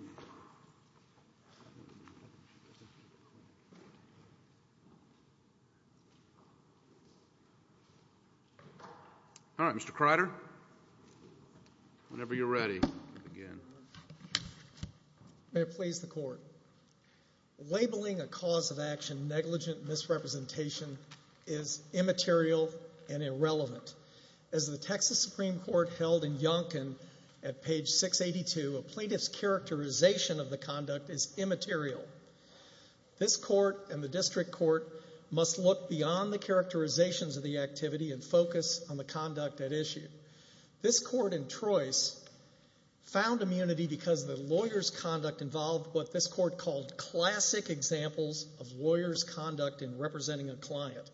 All right, Mr. Kreider, whenever you're ready, again. May it please the Court. Labeling a cause of action negligent misrepresentation is immaterial and irrelevant. As the Texas Supreme Court held in Yonkin at page 682, a plaintiff's characterization of the conduct is immaterial. This Court and the District Court must look beyond the characterizations of the activity and focus on the conduct at issue. This Court in Troyes found immunity because the lawyer's conduct involved what this Court called classic examples of lawyer's conduct in representing a client.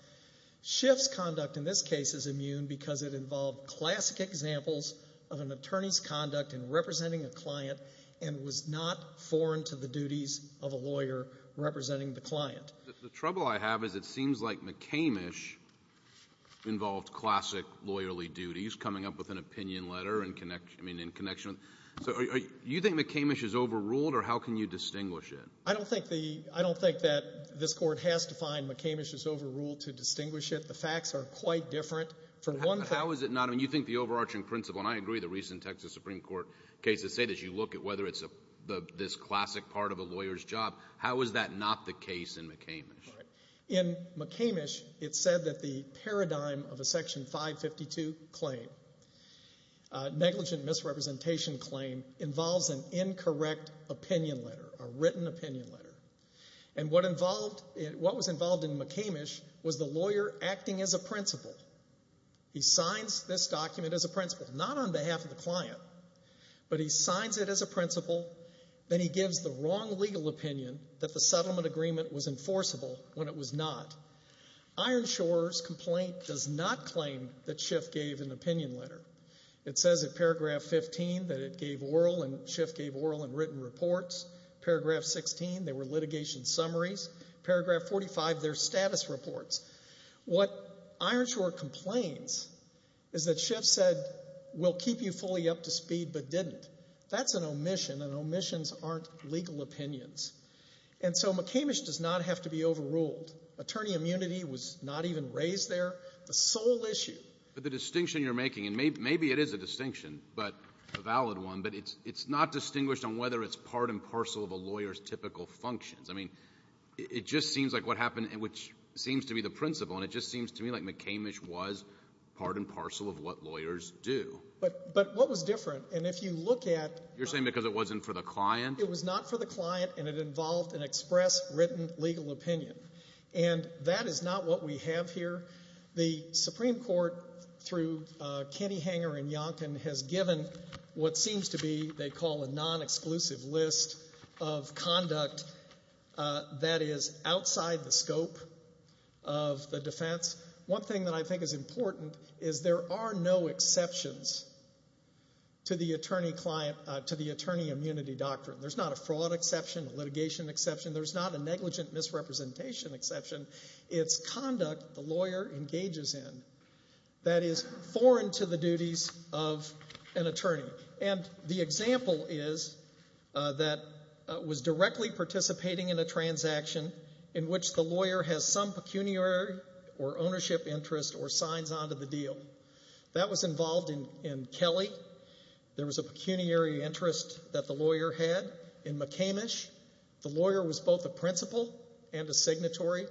Schiff's conduct in this case is immune because it involved classic examples of an attorney's conduct in representing a client and was not foreign to the duties of a lawyer representing the client. The trouble I have is it seems like McCamish involved classic lawyerly duties, coming up with an opinion letter in connection with—do you think McCamish is overruled or how can you distinguish it? I don't think that this Court has to find McCamish is overruled to distinguish it. The facts are quite different. For one— How is it not? I mean, you think the overarching principle—and I agree with the recent Texas Supreme Court case that say that you look at whether it's this classic part of a lawyer's job. How is that not the case in McCamish? In McCamish, it said that the paradigm of a section 552 claim, negligent misrepresentation claim involves an incorrect opinion letter, a written opinion letter. And what was involved in McCamish was the lawyer acting as a principal. He signs this document as a principal, not on behalf of the client, but he signs it as a principal, then he gives the wrong legal opinion that the settlement agreement was enforceable when it was not. Ironshore's complaint does not claim that Schiff gave an opinion letter. It says in paragraph 15 that it gave oral, and Schiff gave oral and written reports. Paragraph 16, they were litigation summaries. Paragraph 45, their status reports. What Ironshore complains is that Schiff said, we'll keep you fully up to speed, but didn't. That's an omission, and omissions aren't legal opinions. And so McCamish does not have to be overruled. Attorney immunity was not even raised there. The sole issue— But the distinction you're making, and maybe it is a distinction, but a valid one, but it's not distinguished on whether it's part and parcel of a lawyer's typical functions. I mean, it just seems like what happened, which seems to be the principal, and it just seems to me like McCamish was part and parcel of what lawyers do. But what was different, and if you look at— You're saying because it wasn't for the client? It was not for the client, and it involved an express, written legal opinion. And that is not what we have here. The Supreme Court, through Kenny Hanger and Yonkin, has given what seems to be, they call, a non-exclusive list of conduct that is outside the scope of the defense. One thing that I think is important is there are no exceptions to the attorney client, to the attorney immunity doctrine. There's not a fraud exception, a litigation exception. There's not a negligent misrepresentation exception. It's conduct the lawyer engages in that is foreign to the duties of an attorney. And the example is that was directly participating in a transaction in which the lawyer has some pecuniary or ownership interest or signs onto the deal. That was involved in Kelly. There was a pecuniary interest that the lawyer had in McCamish. The lawyer was both a principal and a signatory.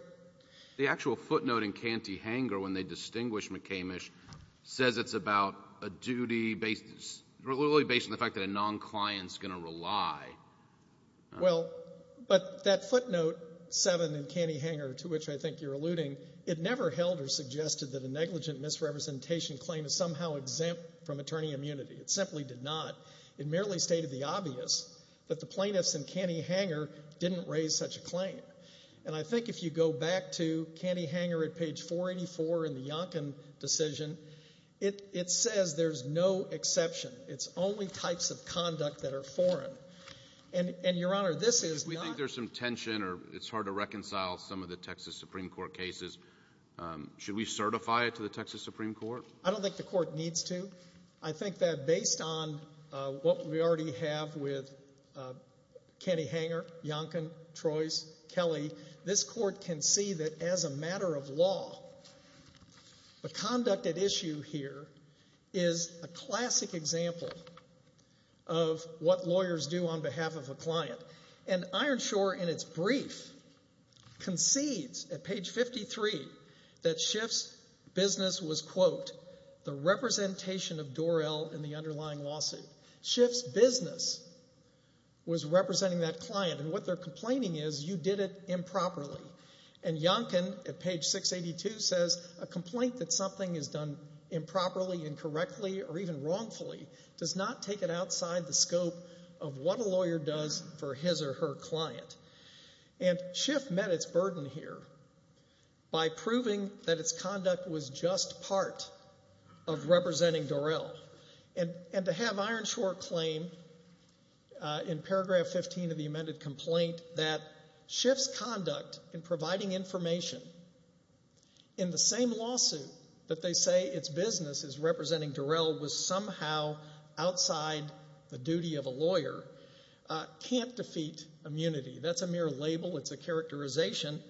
The actual footnote in Canty-Hanger, when they distinguish McCamish, says it's about a duty based, really based on the fact that a non-client's going to rely. Well, but that footnote 7 in Canty-Hanger, to which I think you're alluding, it never held or suggested that a negligent misrepresentation claim is somehow exempt from attorney immunity. It simply did not. It merely stated the obvious that the plaintiffs in Canty-Hanger didn't raise such a claim. And I think if you go back to Canty-Hanger at page 484 in the Yonkin decision, it says there's no exception. It's only types of conduct that are foreign. And Your Honor, this is not- If we think there's some tension or it's hard to reconcile some of the Texas Supreme Court cases, should we certify it to the Texas Supreme Court? I don't think the court needs to. I think that based on what we already have with Canty-Hanger, Yonkin, Troyes, Kelly, this court can see that as a matter of law, the conduct at issue here is a classic example of what lawyers do on behalf of a client. And Ironshore, in its brief, concedes at page 53 that Schiff's business was, quote, the representation of Dorrell in the underlying lawsuit. Schiff's business was representing that client, and what they're complaining is you did it improperly. And Yonkin, at page 682, says a complaint that something is done improperly, incorrectly, or even wrongfully, does not take it outside the scope of what a lawyer does for his or her client. And Schiff met its burden here by proving that its conduct was just part of representing Dorrell. And to have Ironshore claim in paragraph 15 of the amended complaint that Schiff's conduct in providing information in the same lawsuit that they say its business is representing Dorrell was somehow outside the duty of a lawyer can't defeat immunity. That's a mere label. It's a characterization.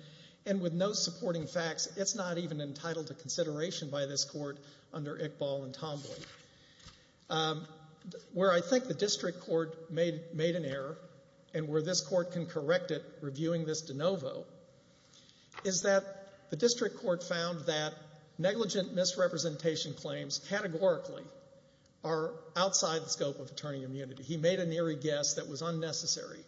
And with no supporting facts, it's not even entitled to consideration by this court under Iqbal and Tomboy. Where I think the district court made an error, and where this court can correct it reviewing this de novo, is that the district court found that negligent misrepresentation claims categorically are outside the scope of attorney immunity. He made an eerie guess that was unnecessary.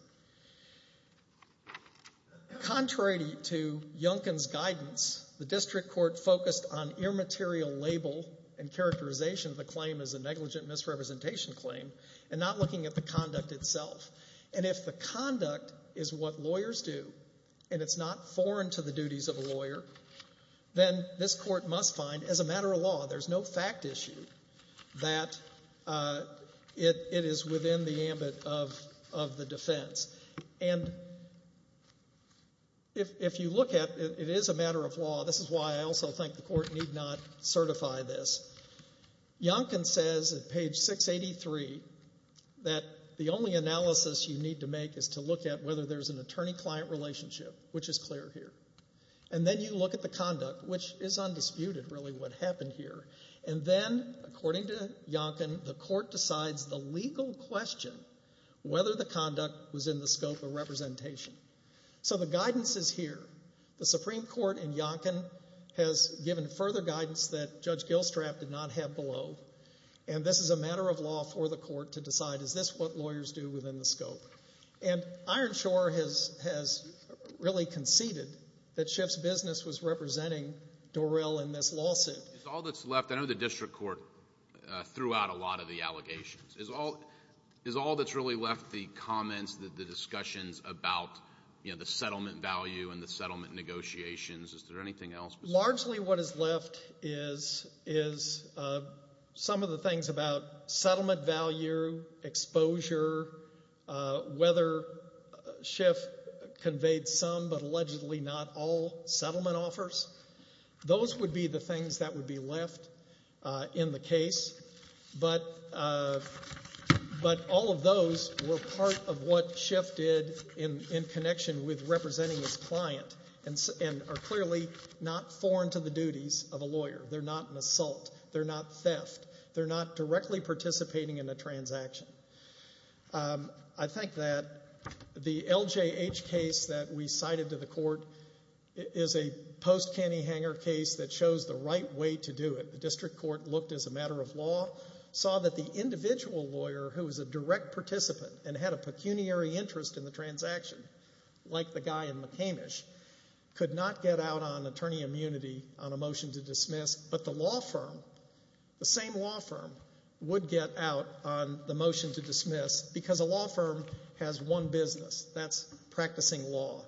Contrary to Yonkin's guidance, the district court focused on immaterial label and characterization of the claim as a negligent misrepresentation claim and not looking at the conduct itself. And if the conduct is what lawyers do, and it's not foreign to the duties of a lawyer, then this court must find, as a matter of law, there's no fact issue that it is within the ambit of the defense. And if you look at it, it is a matter of law. This is why I also think the court need not certify this. Yonkin says at page 683 that the only analysis you need to make is to look at whether there's an attorney-client relationship, which is clear here. And then you look at the conduct, which is undisputed, really, what happened here. And then, according to Yonkin, the court decides the legal question whether the conduct was in the scope of representation. So the guidance is here. The Supreme Court in Yonkin has given further guidance that Judge Gilstrap did not have below, and this is a matter of law for the court to decide, is this what lawyers do within the scope? And Ironshore has really conceded that Schiff's business was representing Dorrell in this lawsuit. It's all that's left. I know the district court threw out a lot of the allegations. It's all that's really left, the comments, the discussions about, you know, the settlement value and the settlement negotiations. Is there anything else? Largely what is left is some of the things about settlement value, exposure, whether Schiff conveyed some but allegedly not all settlement offers. Those would be the things that would be left in the case, but all of those were part of what Schiff did in connection with representing his client and are clearly not foreign to the duties of a lawyer. They're not an assault. They're not theft. They're not directly participating in a transaction. I think that the LJH case that we cited to the court is a post-Cantyhanger case that shows the right way to do it. The district court looked as a matter of law, saw that the individual lawyer who was a direct participant and had a pecuniary interest in the transaction, like the guy in McCamish, could not get out on attorney immunity on a motion to dismiss, but the law firm, the same law firm, would get out on the motion to dismiss because a law firm has one business. That's practicing law.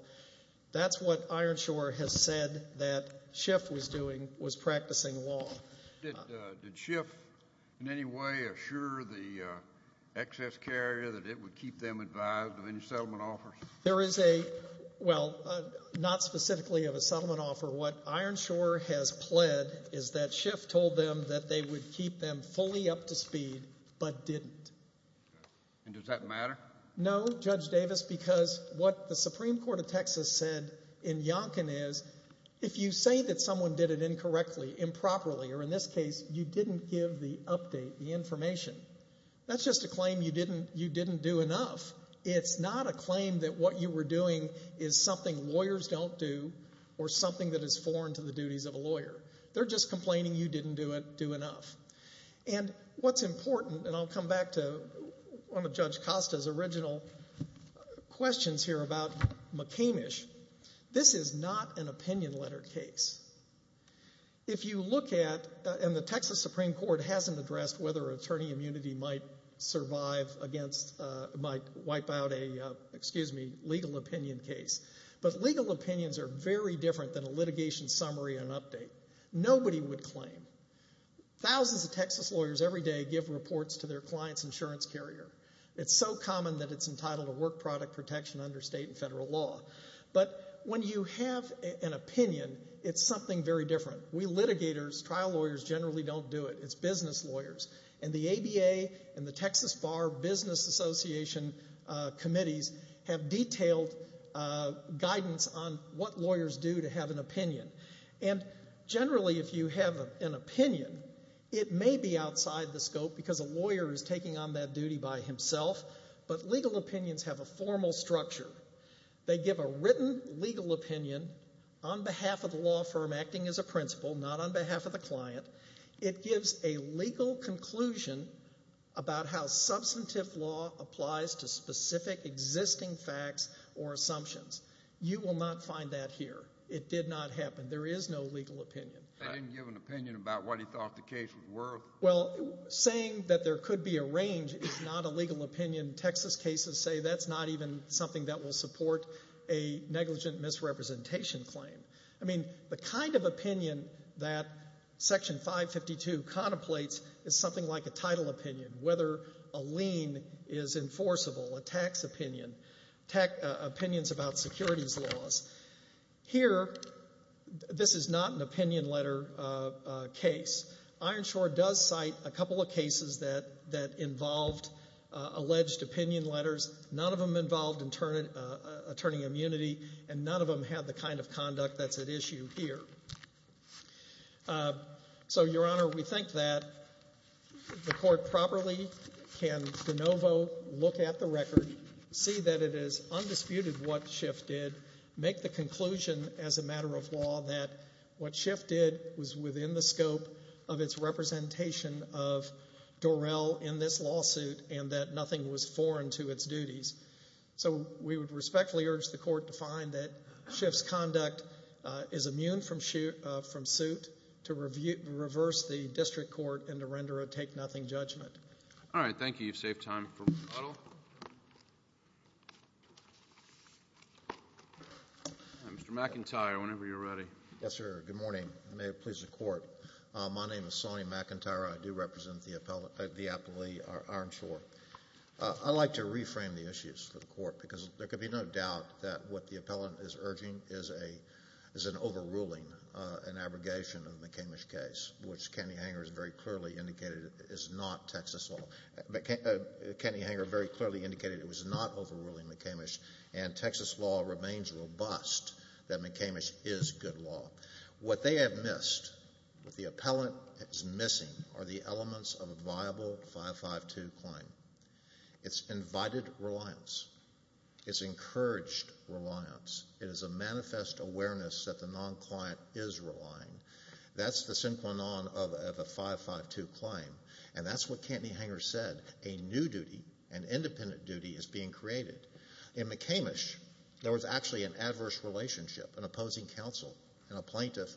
That's what Ironshore has said that Schiff was doing was practicing law. Did Schiff in any way assure the excess carrier that it would keep them advised of any settlement offers? There is a, well, not specifically of a settlement offer. What Ironshore has pled is that Schiff told them that they would keep them fully up to speed but didn't. And does that matter? No, Judge Davis, because what the Supreme Court of Texas said in Yonkin is, if you say that someone did it incorrectly, improperly, or in this case, you didn't give the update, the information, that's just a claim you didn't do enough. It's not a claim that what you were doing is something lawyers don't do or something that is foreign to the duties of a lawyer. They're just complaining you didn't do enough. And what's important, and I'll come back to one of Judge Costa's original questions here about McCamish, this is not an opinion letter case. If you look at, and the Texas Supreme Court hasn't addressed whether attorney immunity might survive against, might wipe out a, excuse me, legal opinion case, but legal opinions are very different than a litigation summary and update. Nobody would claim. Thousands of Texas lawyers every day give reports to their client's insurance carrier. It's so common that it's entitled to work product protection under state and federal law. But when you have an opinion, it's something very different. We litigators, trial lawyers, generally don't do it. It's business lawyers. And the ABA and the Texas Bar Business Association committees have detailed guidance on what lawyers do to have an opinion. And generally, if you have an opinion, it may be outside the scope because a lawyer is taking on that duty by himself. But legal opinions have a formal structure. They give a written legal opinion on behalf of the law firm acting as a principal, not on behalf of the client. It gives a legal conclusion about how substantive law applies to specific existing facts or assumptions. You will not find that here. It did not happen. There is no legal opinion. They didn't give an opinion about what he thought the case was worth. Well, saying that there could be a range is not a legal opinion. Texas cases say that's not even something that will support a negligent misrepresentation claim. I mean, the kind of opinion that Section 552 contemplates is something like a title opinion, whether a lien is enforceable, a tax opinion, opinions about securities laws. Here, this is not an opinion letter case. Ironshore does cite a couple of cases that involved alleged opinion letters. None of them involved attorney immunity, and none of them had the kind of conduct that's at issue here. So Your Honor, we think that the Court properly can de novo look at the record, see that it is undisputed what Schiff did, make the conclusion as a matter of law that what Schiff did was within the scope of its representation of Dorrell in this lawsuit, and that nothing was foreign to its duties. So we would respectfully urge the Court to find that Schiff's conduct is immune from suit to reverse the District Court and to render a take-nothing judgment. All right. Thank you. You've saved time for rebuttal. Mr. McIntyre, whenever you're ready. Yes, sir. Good morning. Good morning. May it please the Court. My name is Sonny McIntyre. I do represent the appellee, Ironshore. I'd like to reframe the issues for the Court because there could be no doubt that what the appellant is urging is an overruling, an abrogation of the McCamish case, which Kenny Hanger has very clearly indicated is not Texas law. Kenny Hanger very clearly indicated it was not overruling McCamish, and Texas law remains robust that McCamish is good law. What they have missed, what the appellant is missing, are the elements of a viable 552 claim. It's invited reliance. It's encouraged reliance. It is a manifest awareness that the non-client is relying. That's the synchronon of a 552 claim, and that's what Kenny Hanger said. A new duty, an independent duty, is being created. In McCamish, there was actually an adverse relationship, an opposing counsel and a plaintiff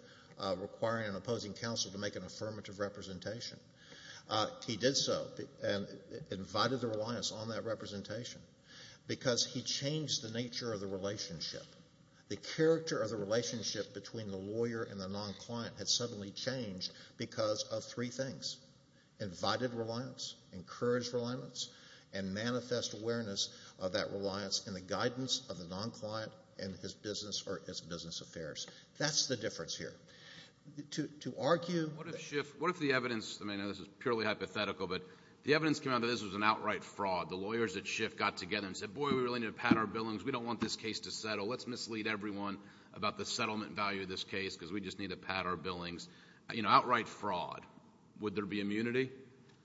requiring an opposing counsel to make an affirmative representation. He did so and invited the reliance on that representation because he changed the nature of the relationship. The character of the relationship between the lawyer and the non-client had suddenly changed because of three things, invited reliance, encouraged reliance, and manifest awareness of that reliance in the guidance of the non-client and his business or his business affairs. That's the difference here. To argue... What if Schiff... what if the evidence... I mean, this is purely hypothetical, but the evidence came out that this was an outright fraud. The lawyers at Schiff got together and said, boy, we really need to pat our billings. We don't want this case to settle. Let's mislead everyone about the settlement value of this case because we just need to pat our billings. You know, outright fraud. Would there be immunity?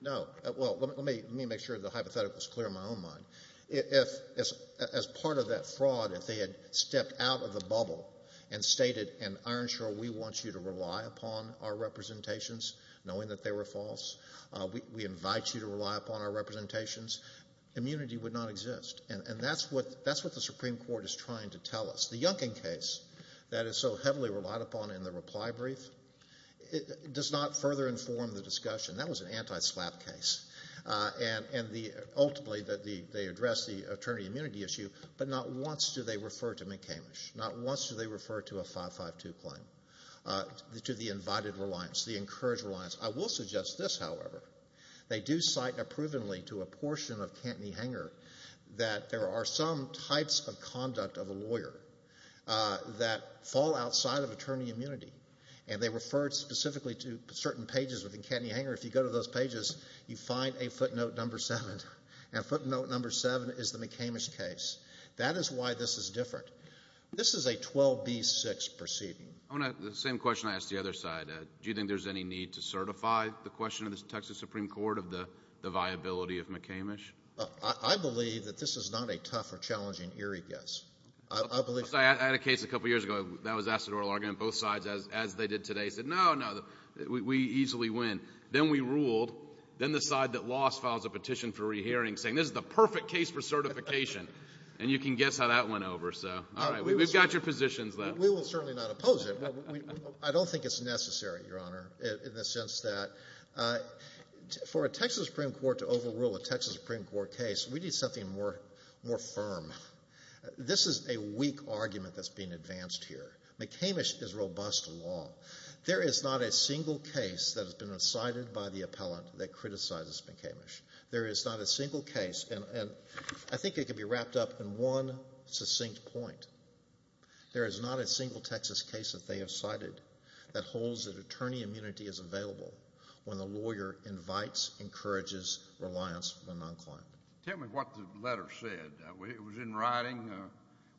No. Well, let me make sure the hypothetical is clear in my own mind. As part of that fraud, if they had stepped out of the bubble and stated, and Irenshaw, we want you to rely upon our representations, knowing that they were false, we invite you to rely upon our representations, immunity would not exist. And that's what the Supreme Court is trying to tell us. The Yunkin case that is so heavily relied upon in the reply brief does not further inform the discussion. That was an anti-SLAPP case. And ultimately, they addressed the attorney immunity issue, but not once do they refer to McCamish. Not once do they refer to a 552 claim, to the invited reliance, the encouraged reliance. I will suggest this, however. They do cite approvingly to a portion of Cantney-Hanger that there are some types of conduct of a lawyer that fall outside of attorney immunity. And they refer specifically to certain pages within Cantney-Hanger. If you go to those pages, you find a footnote number seven. And footnote number seven is the McCamish case. That is why this is different. This is a 12B6 proceeding. The same question I asked the other side, do you think there's any need to certify the question of the Texas Supreme Court of the viability of McCamish? I believe that this is not a tough or challenging eerie guess. I had a case a couple years ago that was asked at oral argument. Both sides, as they did today, said no, no, we easily win. Then we ruled. Then the side that lost files a petition for re-hearing saying this is the perfect case for certification. And you can guess how that went over. So, all right. We've got your positions, though. We will certainly not oppose it. I don't think it's necessary, Your Honor, in the sense that for a Texas Supreme Court to overrule a Texas Supreme Court case, we need something more firm. This is a weak argument that's being advanced here. McCamish is robust law. There is not a single case that has been cited by the appellant that criticizes McCamish. There is not a single case, and I think it can be wrapped up in one succinct point. There is not a single Texas case that they have cited that holds that attorney immunity is available when the lawyer invites, encourages reliance from the non-client. Tell me what the letter said. Was it in writing,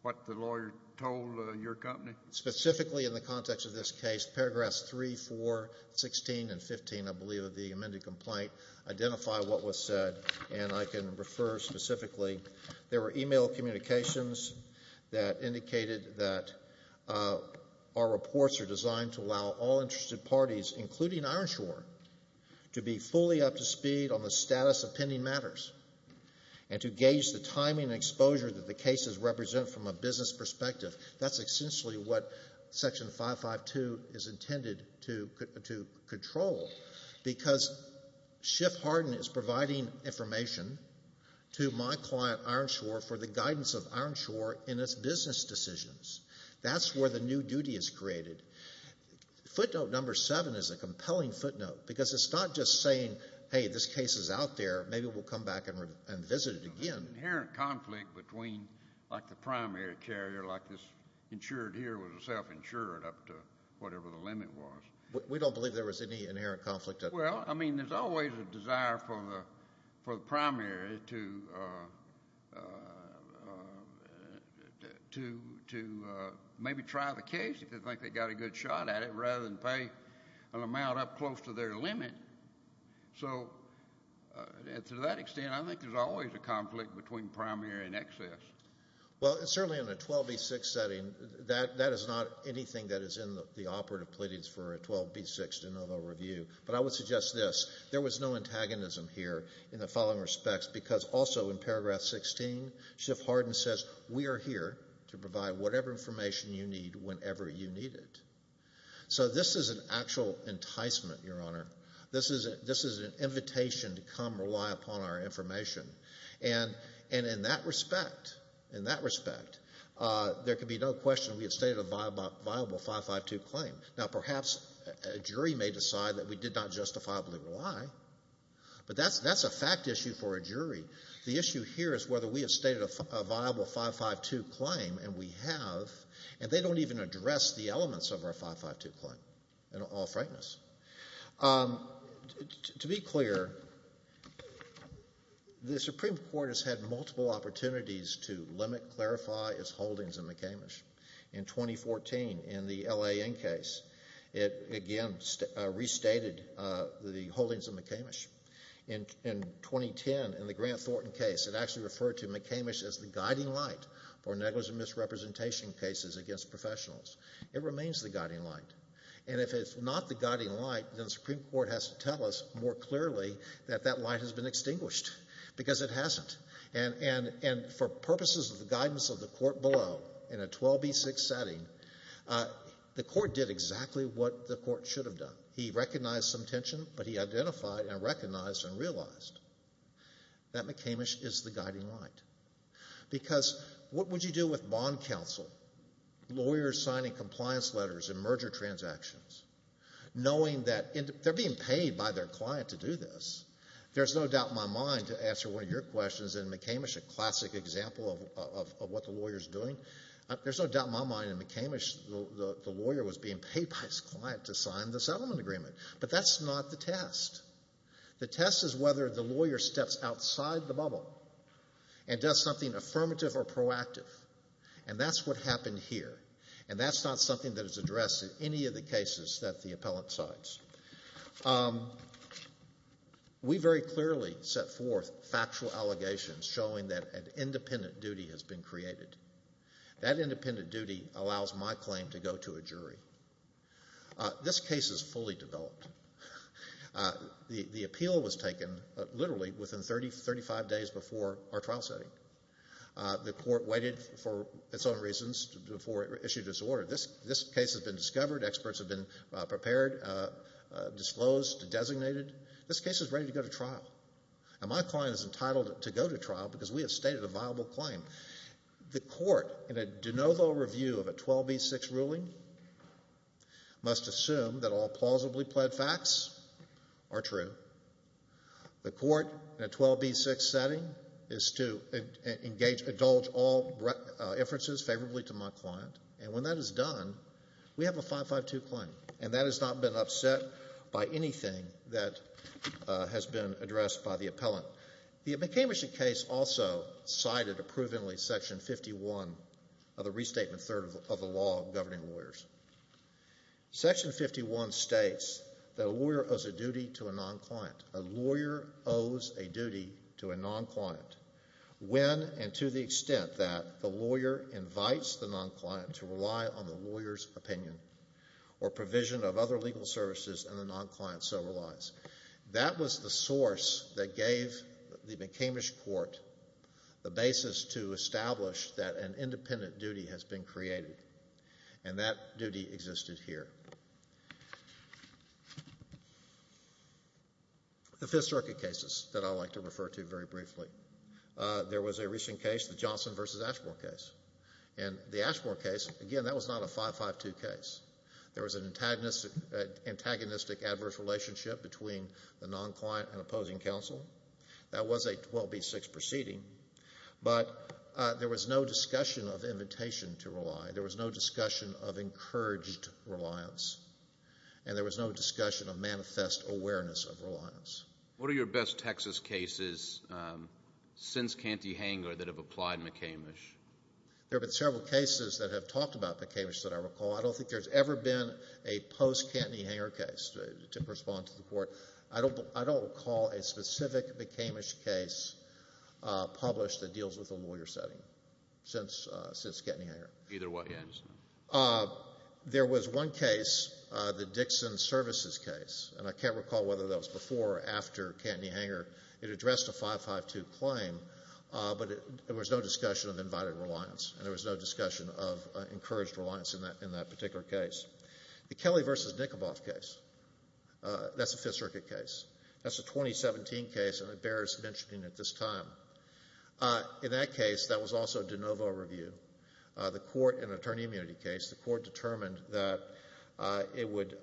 what the lawyer told your company? Specifically in the context of this case, paragraphs 3, 4, 16, and 15, I believe, of the amended complaint identify what was said, and I can refer specifically. There were email communications that indicated that our reports are designed to allow all to gauge the timing and exposure that the cases represent from a business perspective. That's essentially what Section 552 is intended to control, because Schiff Harden is providing information to my client, Ironshore, for the guidance of Ironshore in its business decisions. That's where the new duty is created. Footnote number 7 is a compelling footnote, because it's not just saying, hey, this case is out there. Maybe we'll come back and visit it again. There's an inherent conflict between, like the primary carrier, like this insured here was a self-insured up to whatever the limit was. We don't believe there was any inherent conflict at all. Well, I mean, there's always a desire for the primary to maybe try the case, if they think they got a good shot at it, rather than pay an amount up close to their limit. So, to that extent, I think there's always a conflict between primary and excess. Well, certainly in a 12B6 setting, that is not anything that is in the operative pleadings for a 12B6 de novo review, but I would suggest this. There was no antagonism here in the following respects, because also in paragraph 16, Schiff Harden says, we are here to provide whatever information you need whenever you need it. So this is an actual enticement, Your Honor. This is an invitation to come rely upon our information. And in that respect, there can be no question we have stated a viable 552 claim. Now perhaps a jury may decide that we did not justifiably rely, but that's a fact issue for a jury. The issue here is whether we have stated a viable 552 claim, and we have, and they don't even address the elements of our 552 claim, in all frankness. To be clear, the Supreme Court has had multiple opportunities to limit, clarify its holdings in McCamish. In 2014, in the L.A. InnCase, it again restated the holdings of McCamish. In 2010, in the Grant Thornton case, it actually referred to McCamish as the guiding light for negligent misrepresentation cases against professionals. It remains the guiding light. And if it's not the guiding light, then the Supreme Court has to tell us more clearly that that light has been extinguished, because it hasn't. And for purposes of the guidance of the court below, in a 12B6 setting, the court did exactly what the court should have done. He recognized some tension, but he identified and recognized and realized that McCamish is the guiding light. Because, what would you do with bond counsel, lawyers signing compliance letters and merger transactions, knowing that they're being paid by their client to do this? There's no doubt in my mind, to answer one of your questions, in McCamish, a classic example of what the lawyer's doing, there's no doubt in my mind in McCamish, the lawyer was being paid by his client to sign the settlement agreement. But that's not the test. The test is whether the lawyer steps outside the bubble and does something affirmative or proactive. And that's what happened here. And that's not something that is addressed in any of the cases that the appellant cites. We very clearly set forth factual allegations showing that an independent duty has been created. That independent duty allows my claim to go to a jury. This case is fully developed. The appeal was taken, literally, within 35 days before our trial setting. The court waited for its own reasons before it issued its order. This case has been discovered, experts have been prepared, disclosed, designated. This case is ready to go to trial, and my client is entitled to go to trial because we have stated a viable claim. The court, in a de novo review of a 12B6 ruling, must assume that all plausibly pled facts are true. The court, in a 12B6 setting, is to indulge all inferences favorably to my client. And when that is done, we have a 552 claim. And that has not been upset by anything that has been addressed by the appellant. The McCamish case also cited approvingly Section 51 of the Restatement 3rd of the Law governing lawyers. Section 51 states that a lawyer owes a duty to a non-client. A lawyer owes a duty to a non-client when and to the extent that the lawyer invites the non-client to rely on the lawyer's opinion or provision of other legal services and the non-client so relies. That was the source that gave the McCamish court the basis to establish that an independent duty has been created. And that duty existed here. The Fifth Circuit cases that I would like to refer to very briefly. There was a recent case, the Johnson v. Ashmore case. And the Ashmore case, again, that was not a 552 case. There was an antagonistic adverse relationship between the non-client and opposing counsel. That was a 12B6 proceeding. But there was no discussion of invitation to rely. There was no discussion of encouraged reliance. And there was no discussion of manifest awareness of reliance. What are your best Texas cases since Canty-Hangler that have applied McCamish? There have been several cases that have talked about McCamish that I recall. I don't think there's ever been a post-Canty-Hangler case to respond to the court. I don't recall a specific McCamish case published that deals with a lawyer setting since Canty-Hangler. There was one case, the Dixon Services case. And I can't recall whether that was before or after Canty-Hangler. It addressed a 552 claim. But there was no discussion of invited reliance. And there was no discussion of encouraged reliance in that particular case. The Kelly v. Nikoboff case, that's a Fifth Circuit case. That's a 2017 case, and it bears mentioning at this time. In that case, that was also de novo review. The court, in an attorney immunity case, the court determined that it would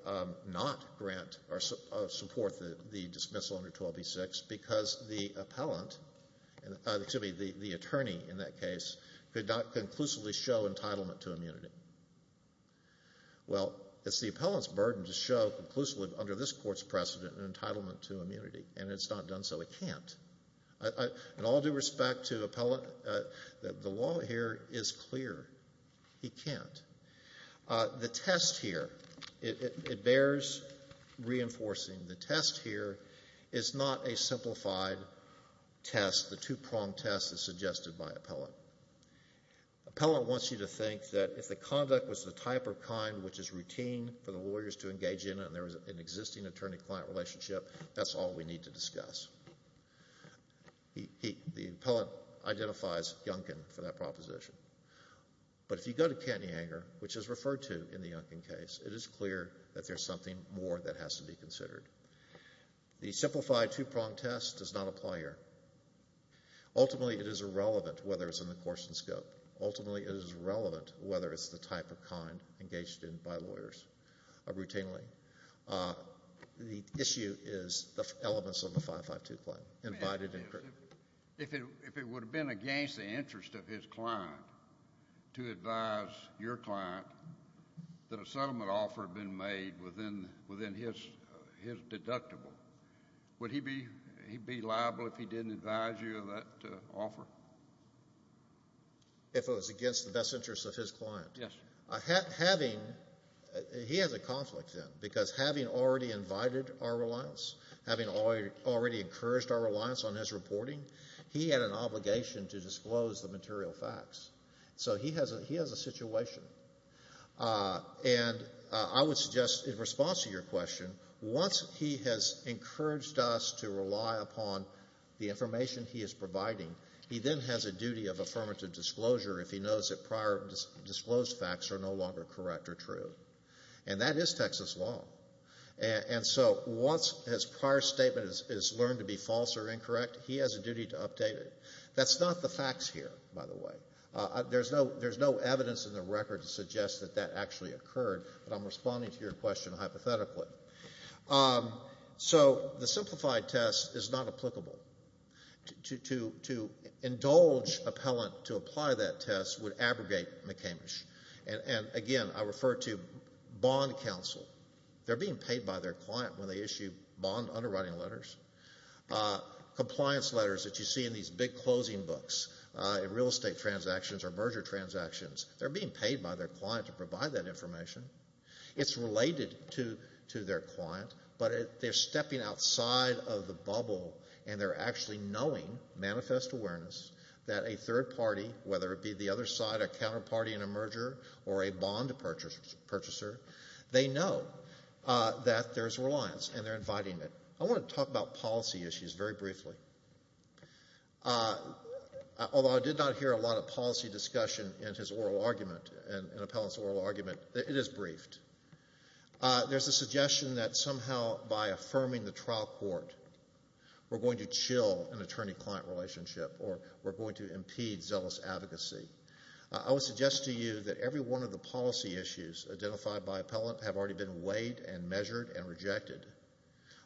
not grant or support the dismissal under 12B6 because the appellant, excuse me, the attorney in that case could not conclusively show entitlement to immunity. Well, it's the appellant's burden to show conclusively under this court's precedent an entitlement to immunity, and it's not done so. It can't. In all due respect to appellant, the law here is clear. He can't. The test here, it bears reinforcing. The test here is not a simplified test, the two-pronged test as suggested by appellant. Appellant wants you to think that if the conduct was the type or kind which is routine for the lawyers to engage in and there was an existing attorney-client relationship, that's all we need to discuss. He, the appellant identifies Yunkin for that proposition. But if you go to Cantyanger, which is referred to in the Yunkin case, the simplified two-pronged test does not apply here. Ultimately, it is irrelevant whether it's in the Corson scope. Ultimately, it is irrelevant whether it's the type or kind engaged in by lawyers routinely. The issue is the elements of the 552 claim invited in court. If it would have been against the interest of his client to advise your client that a settlement offer had been made within his deductible, would he be liable if he didn't advise you of that offer? If it was against the best interest of his client? Yes. Having, he has a conflict then, because having already invited our reliance, having already encouraged our reliance on his reporting, he had an obligation to disclose the material facts. So he has a situation. And I would suggest in response to your question, once he has encouraged us to rely upon the information he is providing, he then has a duty of affirmative disclosure if he knows that prior disclosed facts are no longer correct or true. And that is Texas law. And so once his prior statement is learned to be false or incorrect, he has a duty to update it. That's not the facts here, by the way. There's no evidence in the record to suggest that that actually occurred, but I'm responding to your question hypothetically. So the simplified test is not applicable. To indulge appellant to apply that test would abrogate McCamish. And again, I refer to bond counsel. They're being paid by their client when they issue bond underwriting letters. Compliance letters that you see in these big closing books, in real estate transactions or merger transactions, they're being paid by their client to provide that information. It's related to their client, but they're stepping outside of the bubble and they're actually knowing, manifest awareness, that a third party, whether it be the other side, a counterparty in a merger or a bond purchaser, they know that there's reliance and they're inviting it. I want to talk about policy issues very briefly. Although I did not hear a lot of policy discussion in his oral argument, in appellant's oral argument, it is briefed. There's a suggestion that somehow by affirming the trial court, we're going to chill an attorney-client relationship or we're going to impede zealous advocacy. I would suggest to you that every one of the policy issues identified by appellant have already been weighed and measured and rejected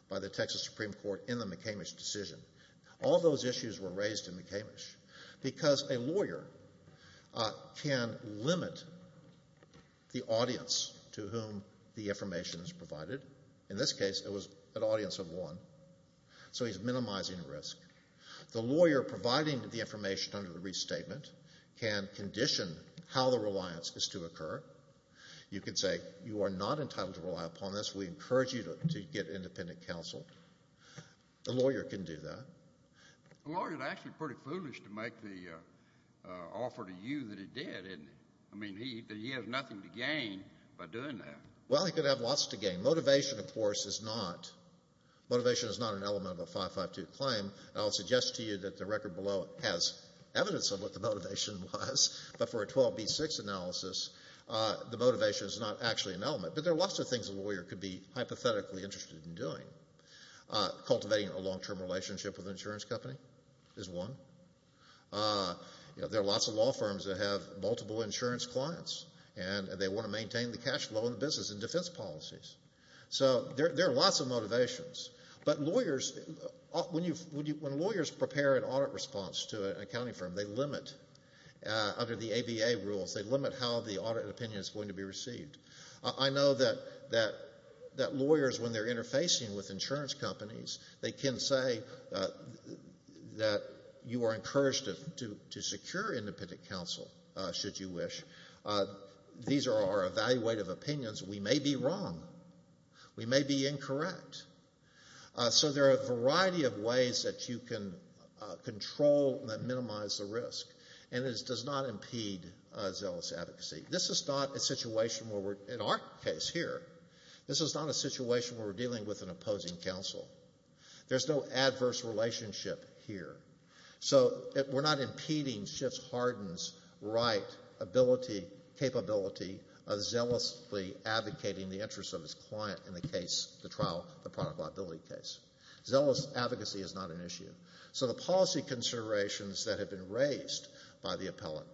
by the Texas Supreme Court in the McCamish decision. All those issues were raised in McCamish because a lawyer can limit the audience to whom the information is provided. In this case, it was an audience of one, so he's minimizing risk. The lawyer providing the information under the restatement can condition how the reliance is to occur. You could say, you are not entitled to rely upon this. We encourage you to get independent counsel. A lawyer can do that. A lawyer is actually pretty foolish to make the offer to you that he did, isn't he? I mean, he has nothing to gain by doing that. Well, he could have lots to gain. Motivation, of course, is not an element of a 552 claim. I'll suggest to you that the record below has evidence of what the motivation was, but there are lots of things a lawyer could be hypothetically interested in doing. Cultivating a long-term relationship with an insurance company is one. There are lots of law firms that have multiple insurance clients, and they want to maintain the cash flow in the business and defense policies. So there are lots of motivations, but when lawyers prepare an audit response to an accounting firm, they limit, under the ABA rules, they limit how the audit opinion is going to be received. I know that lawyers, when they're interfacing with insurance companies, they can say that you are encouraged to secure independent counsel, should you wish. These are our evaluative opinions. We may be wrong. We may be incorrect. So there are a variety of ways that you can control and minimize the risk, and it does not impede zealous advocacy. This is not a situation where we're, in our case here, this is not a situation where we're dealing with an opposing counsel. There's no adverse relationship here. So we're not impeding Schiff's Hardin's right ability, capability, of zealously advocating the interests of his client in the case, the trial, the product liability case. Zealous advocacy is not an issue. So the policy considerations that have been raised by the appellant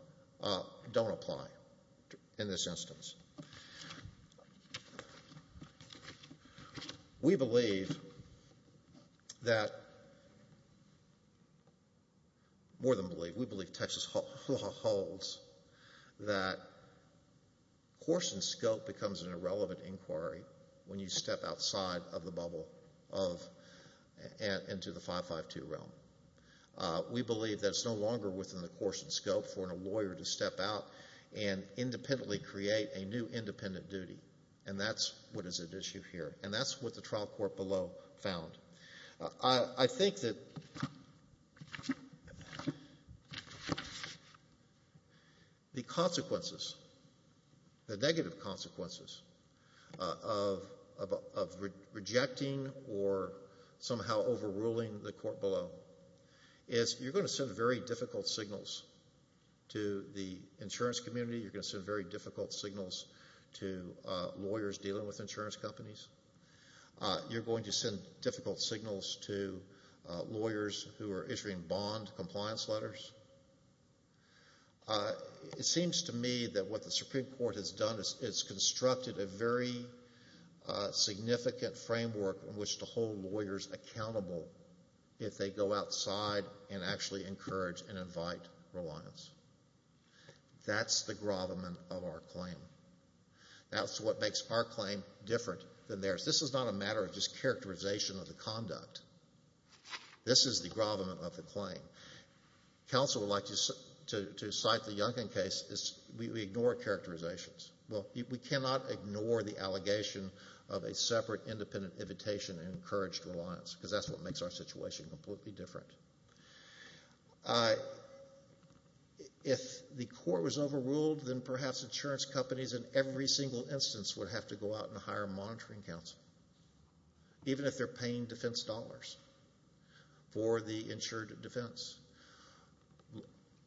don't apply in this instance. We believe that, more than believe, we believe Texas holds that course and scope becomes an irrelevant inquiry when you step outside of the bubble into the 552 realm. We believe that it's no longer within the course and scope for a lawyer to step out and independently create a new independent duty, and that's what is at issue here, and that's what the trial court below found. I think that the consequences, the negative consequences of rejecting or somehow overruling the court below is you're going to send very difficult signals to the insurance community. You're going to send very difficult signals to lawyers dealing with insurance companies. You're going to send difficult signals to lawyers who are issuing bond compliance letters. It seems to me that what the Supreme Court has done is it's constructed a very significant framework in which to hold lawyers accountable if they go outside and actually encourage and invite reliance. That's the grovelment of our claim. That's what makes our claim different than theirs. This is not a matter of just characterization of the conduct. This is the grovelment of the claim. Counsel would like to cite the Yunkin case is we ignore characterizations. Well, we cannot ignore the allegation of a separate independent invitation and encouraged reliance because that's what makes our situation completely different. If the court was overruled, then perhaps insurance companies in every single instance would have to go out and hire a monitoring counsel, even if they're paying defense dollars for the insured defense.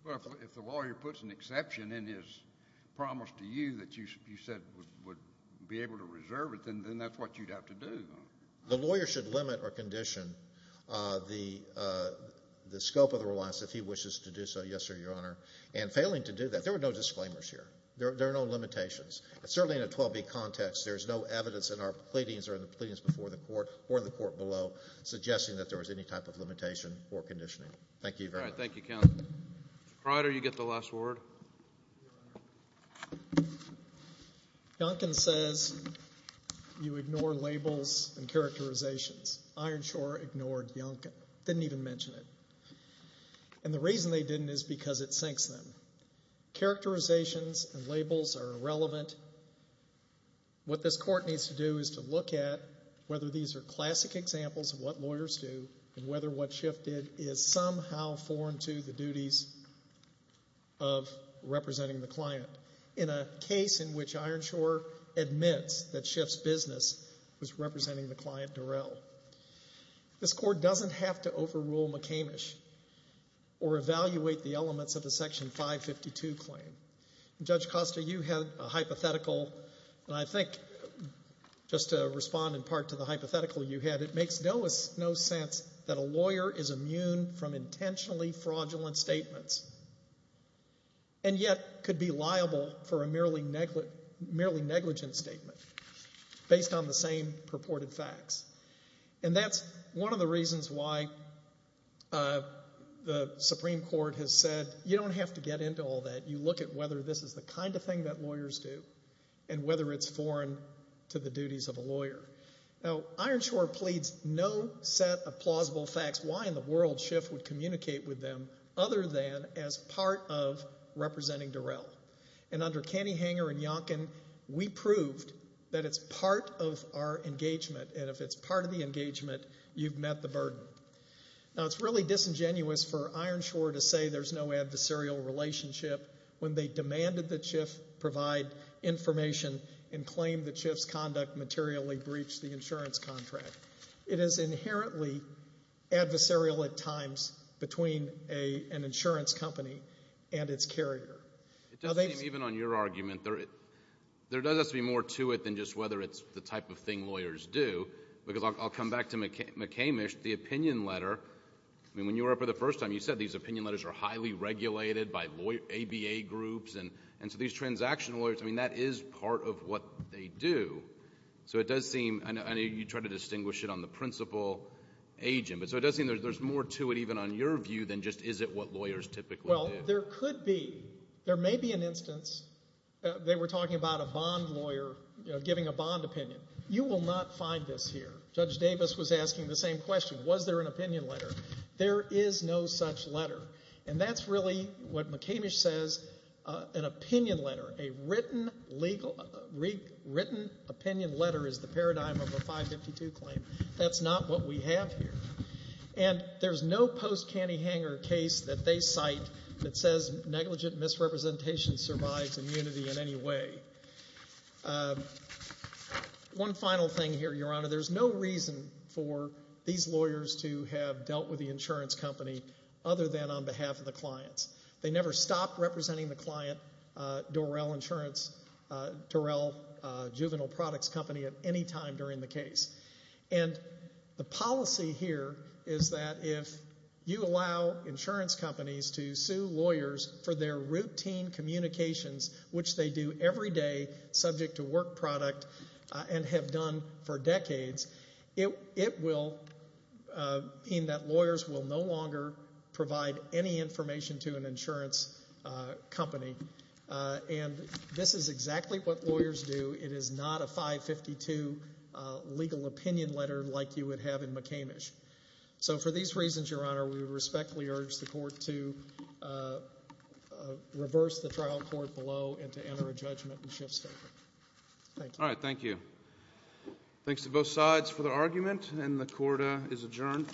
Well, if the lawyer puts an exception in his promise to you that you said would be able to reserve it, then that's what you'd have to do. The lawyer should limit or condition the, the scope of the reliance if he wishes to do so, yes sir, your honor. And failing to do that, there were no disclaimers here. There are no limitations. And certainly in a 12B context, there's no evidence in our pleadings or in the pleadings before the court or the court below suggesting that there was any type of limitation or conditioning. Thank you very much. All right. Thank you, counsel. Mr. Pryor, you get the last word. Yunkin says you ignore labels and characterizations. Iron Shore ignored Yunkin. Didn't even mention it. And the reason they didn't is because it sinks them. Characterizations and labels are irrelevant. What this court needs to do is to look at whether these are classic examples of what lawyers do and whether what Schiff did is somehow foreign to the duties of representing the client. In a case in which Iron Shore admits that Schiff's business was representing the client Durell. This court doesn't have to overrule McCamish or evaluate the elements of the Section 552 claim. Judge Costa, you had a hypothetical, and I think just to respond in part to the hypothetical you had, it makes no sense that a lawyer is immune from intentionally fraudulent statements and yet could be liable for a merely negligent statement based on the same purported facts. And that's one of the reasons why the Supreme Court has said, you don't have to get into all that. You look at whether this is the kind of thing that lawyers do and whether it's foreign to the duties of a lawyer. Now, Iron Shore pleads no set of plausible facts why in the world Schiff would communicate with them other than as part of representing Durell. And under Caney Hanger and Yunkin, we proved that it's part of our engagement and if it's part of the engagement, you've met the burden. Now, it's really disingenuous for Iron Shore to say there's no adversarial relationship when they demanded that Schiff provide information and claimed that Schiff's conduct materially breached the insurance contract. It is inherently adversarial at times between an insurance company and its carrier. It doesn't seem even on your argument, there does have to be more to it than just whether it's the type of thing lawyers do. Because I'll come back to McCamish, the opinion letter. When you were up for the first time, you said these opinion letters are highly regulated by ABA groups and so these transactional lawyers, I mean, that is part of what they do. So it does seem, I know you tried to distinguish it on the principal agent, but so it does seem there's more to it even on your view than just is it what lawyers typically do. Well, there could be. There may be an instance, they were talking about a bond lawyer giving a bond opinion. You will not find this here. Judge Davis was asking the same question. Was there an opinion letter? There is no such letter. And that's really what McCamish says, an opinion letter, a written opinion letter is the paradigm of a 552 claim. That's not what we have here. And there's no post-Cantyhanger case that they cite that says negligent misrepresentation survives immunity in any way. One final thing here, Your Honour. There's no reason for these lawyers to have dealt with the insurance company other than on behalf of the clients. They never stopped representing the client, Dorrell Insurance, Dorrell Juvenile Products Company at any time during the case. And the policy here is that if you allow insurance companies to sue lawyers for their routine communications, which they do every day, subject to work product, and have done for decades, it will mean that lawyers will no longer provide any information to an insurance company. And this is exactly what lawyers do. It is not a 552 legal opinion letter like you would have in McCamish. So for these reasons, Your Honour, we respectfully urge the court to reverse the trial court below and to enter a judgment and shift statement. Thank you. All right. Thank you. Thanks to both sides for their argument. And the court is adjourned.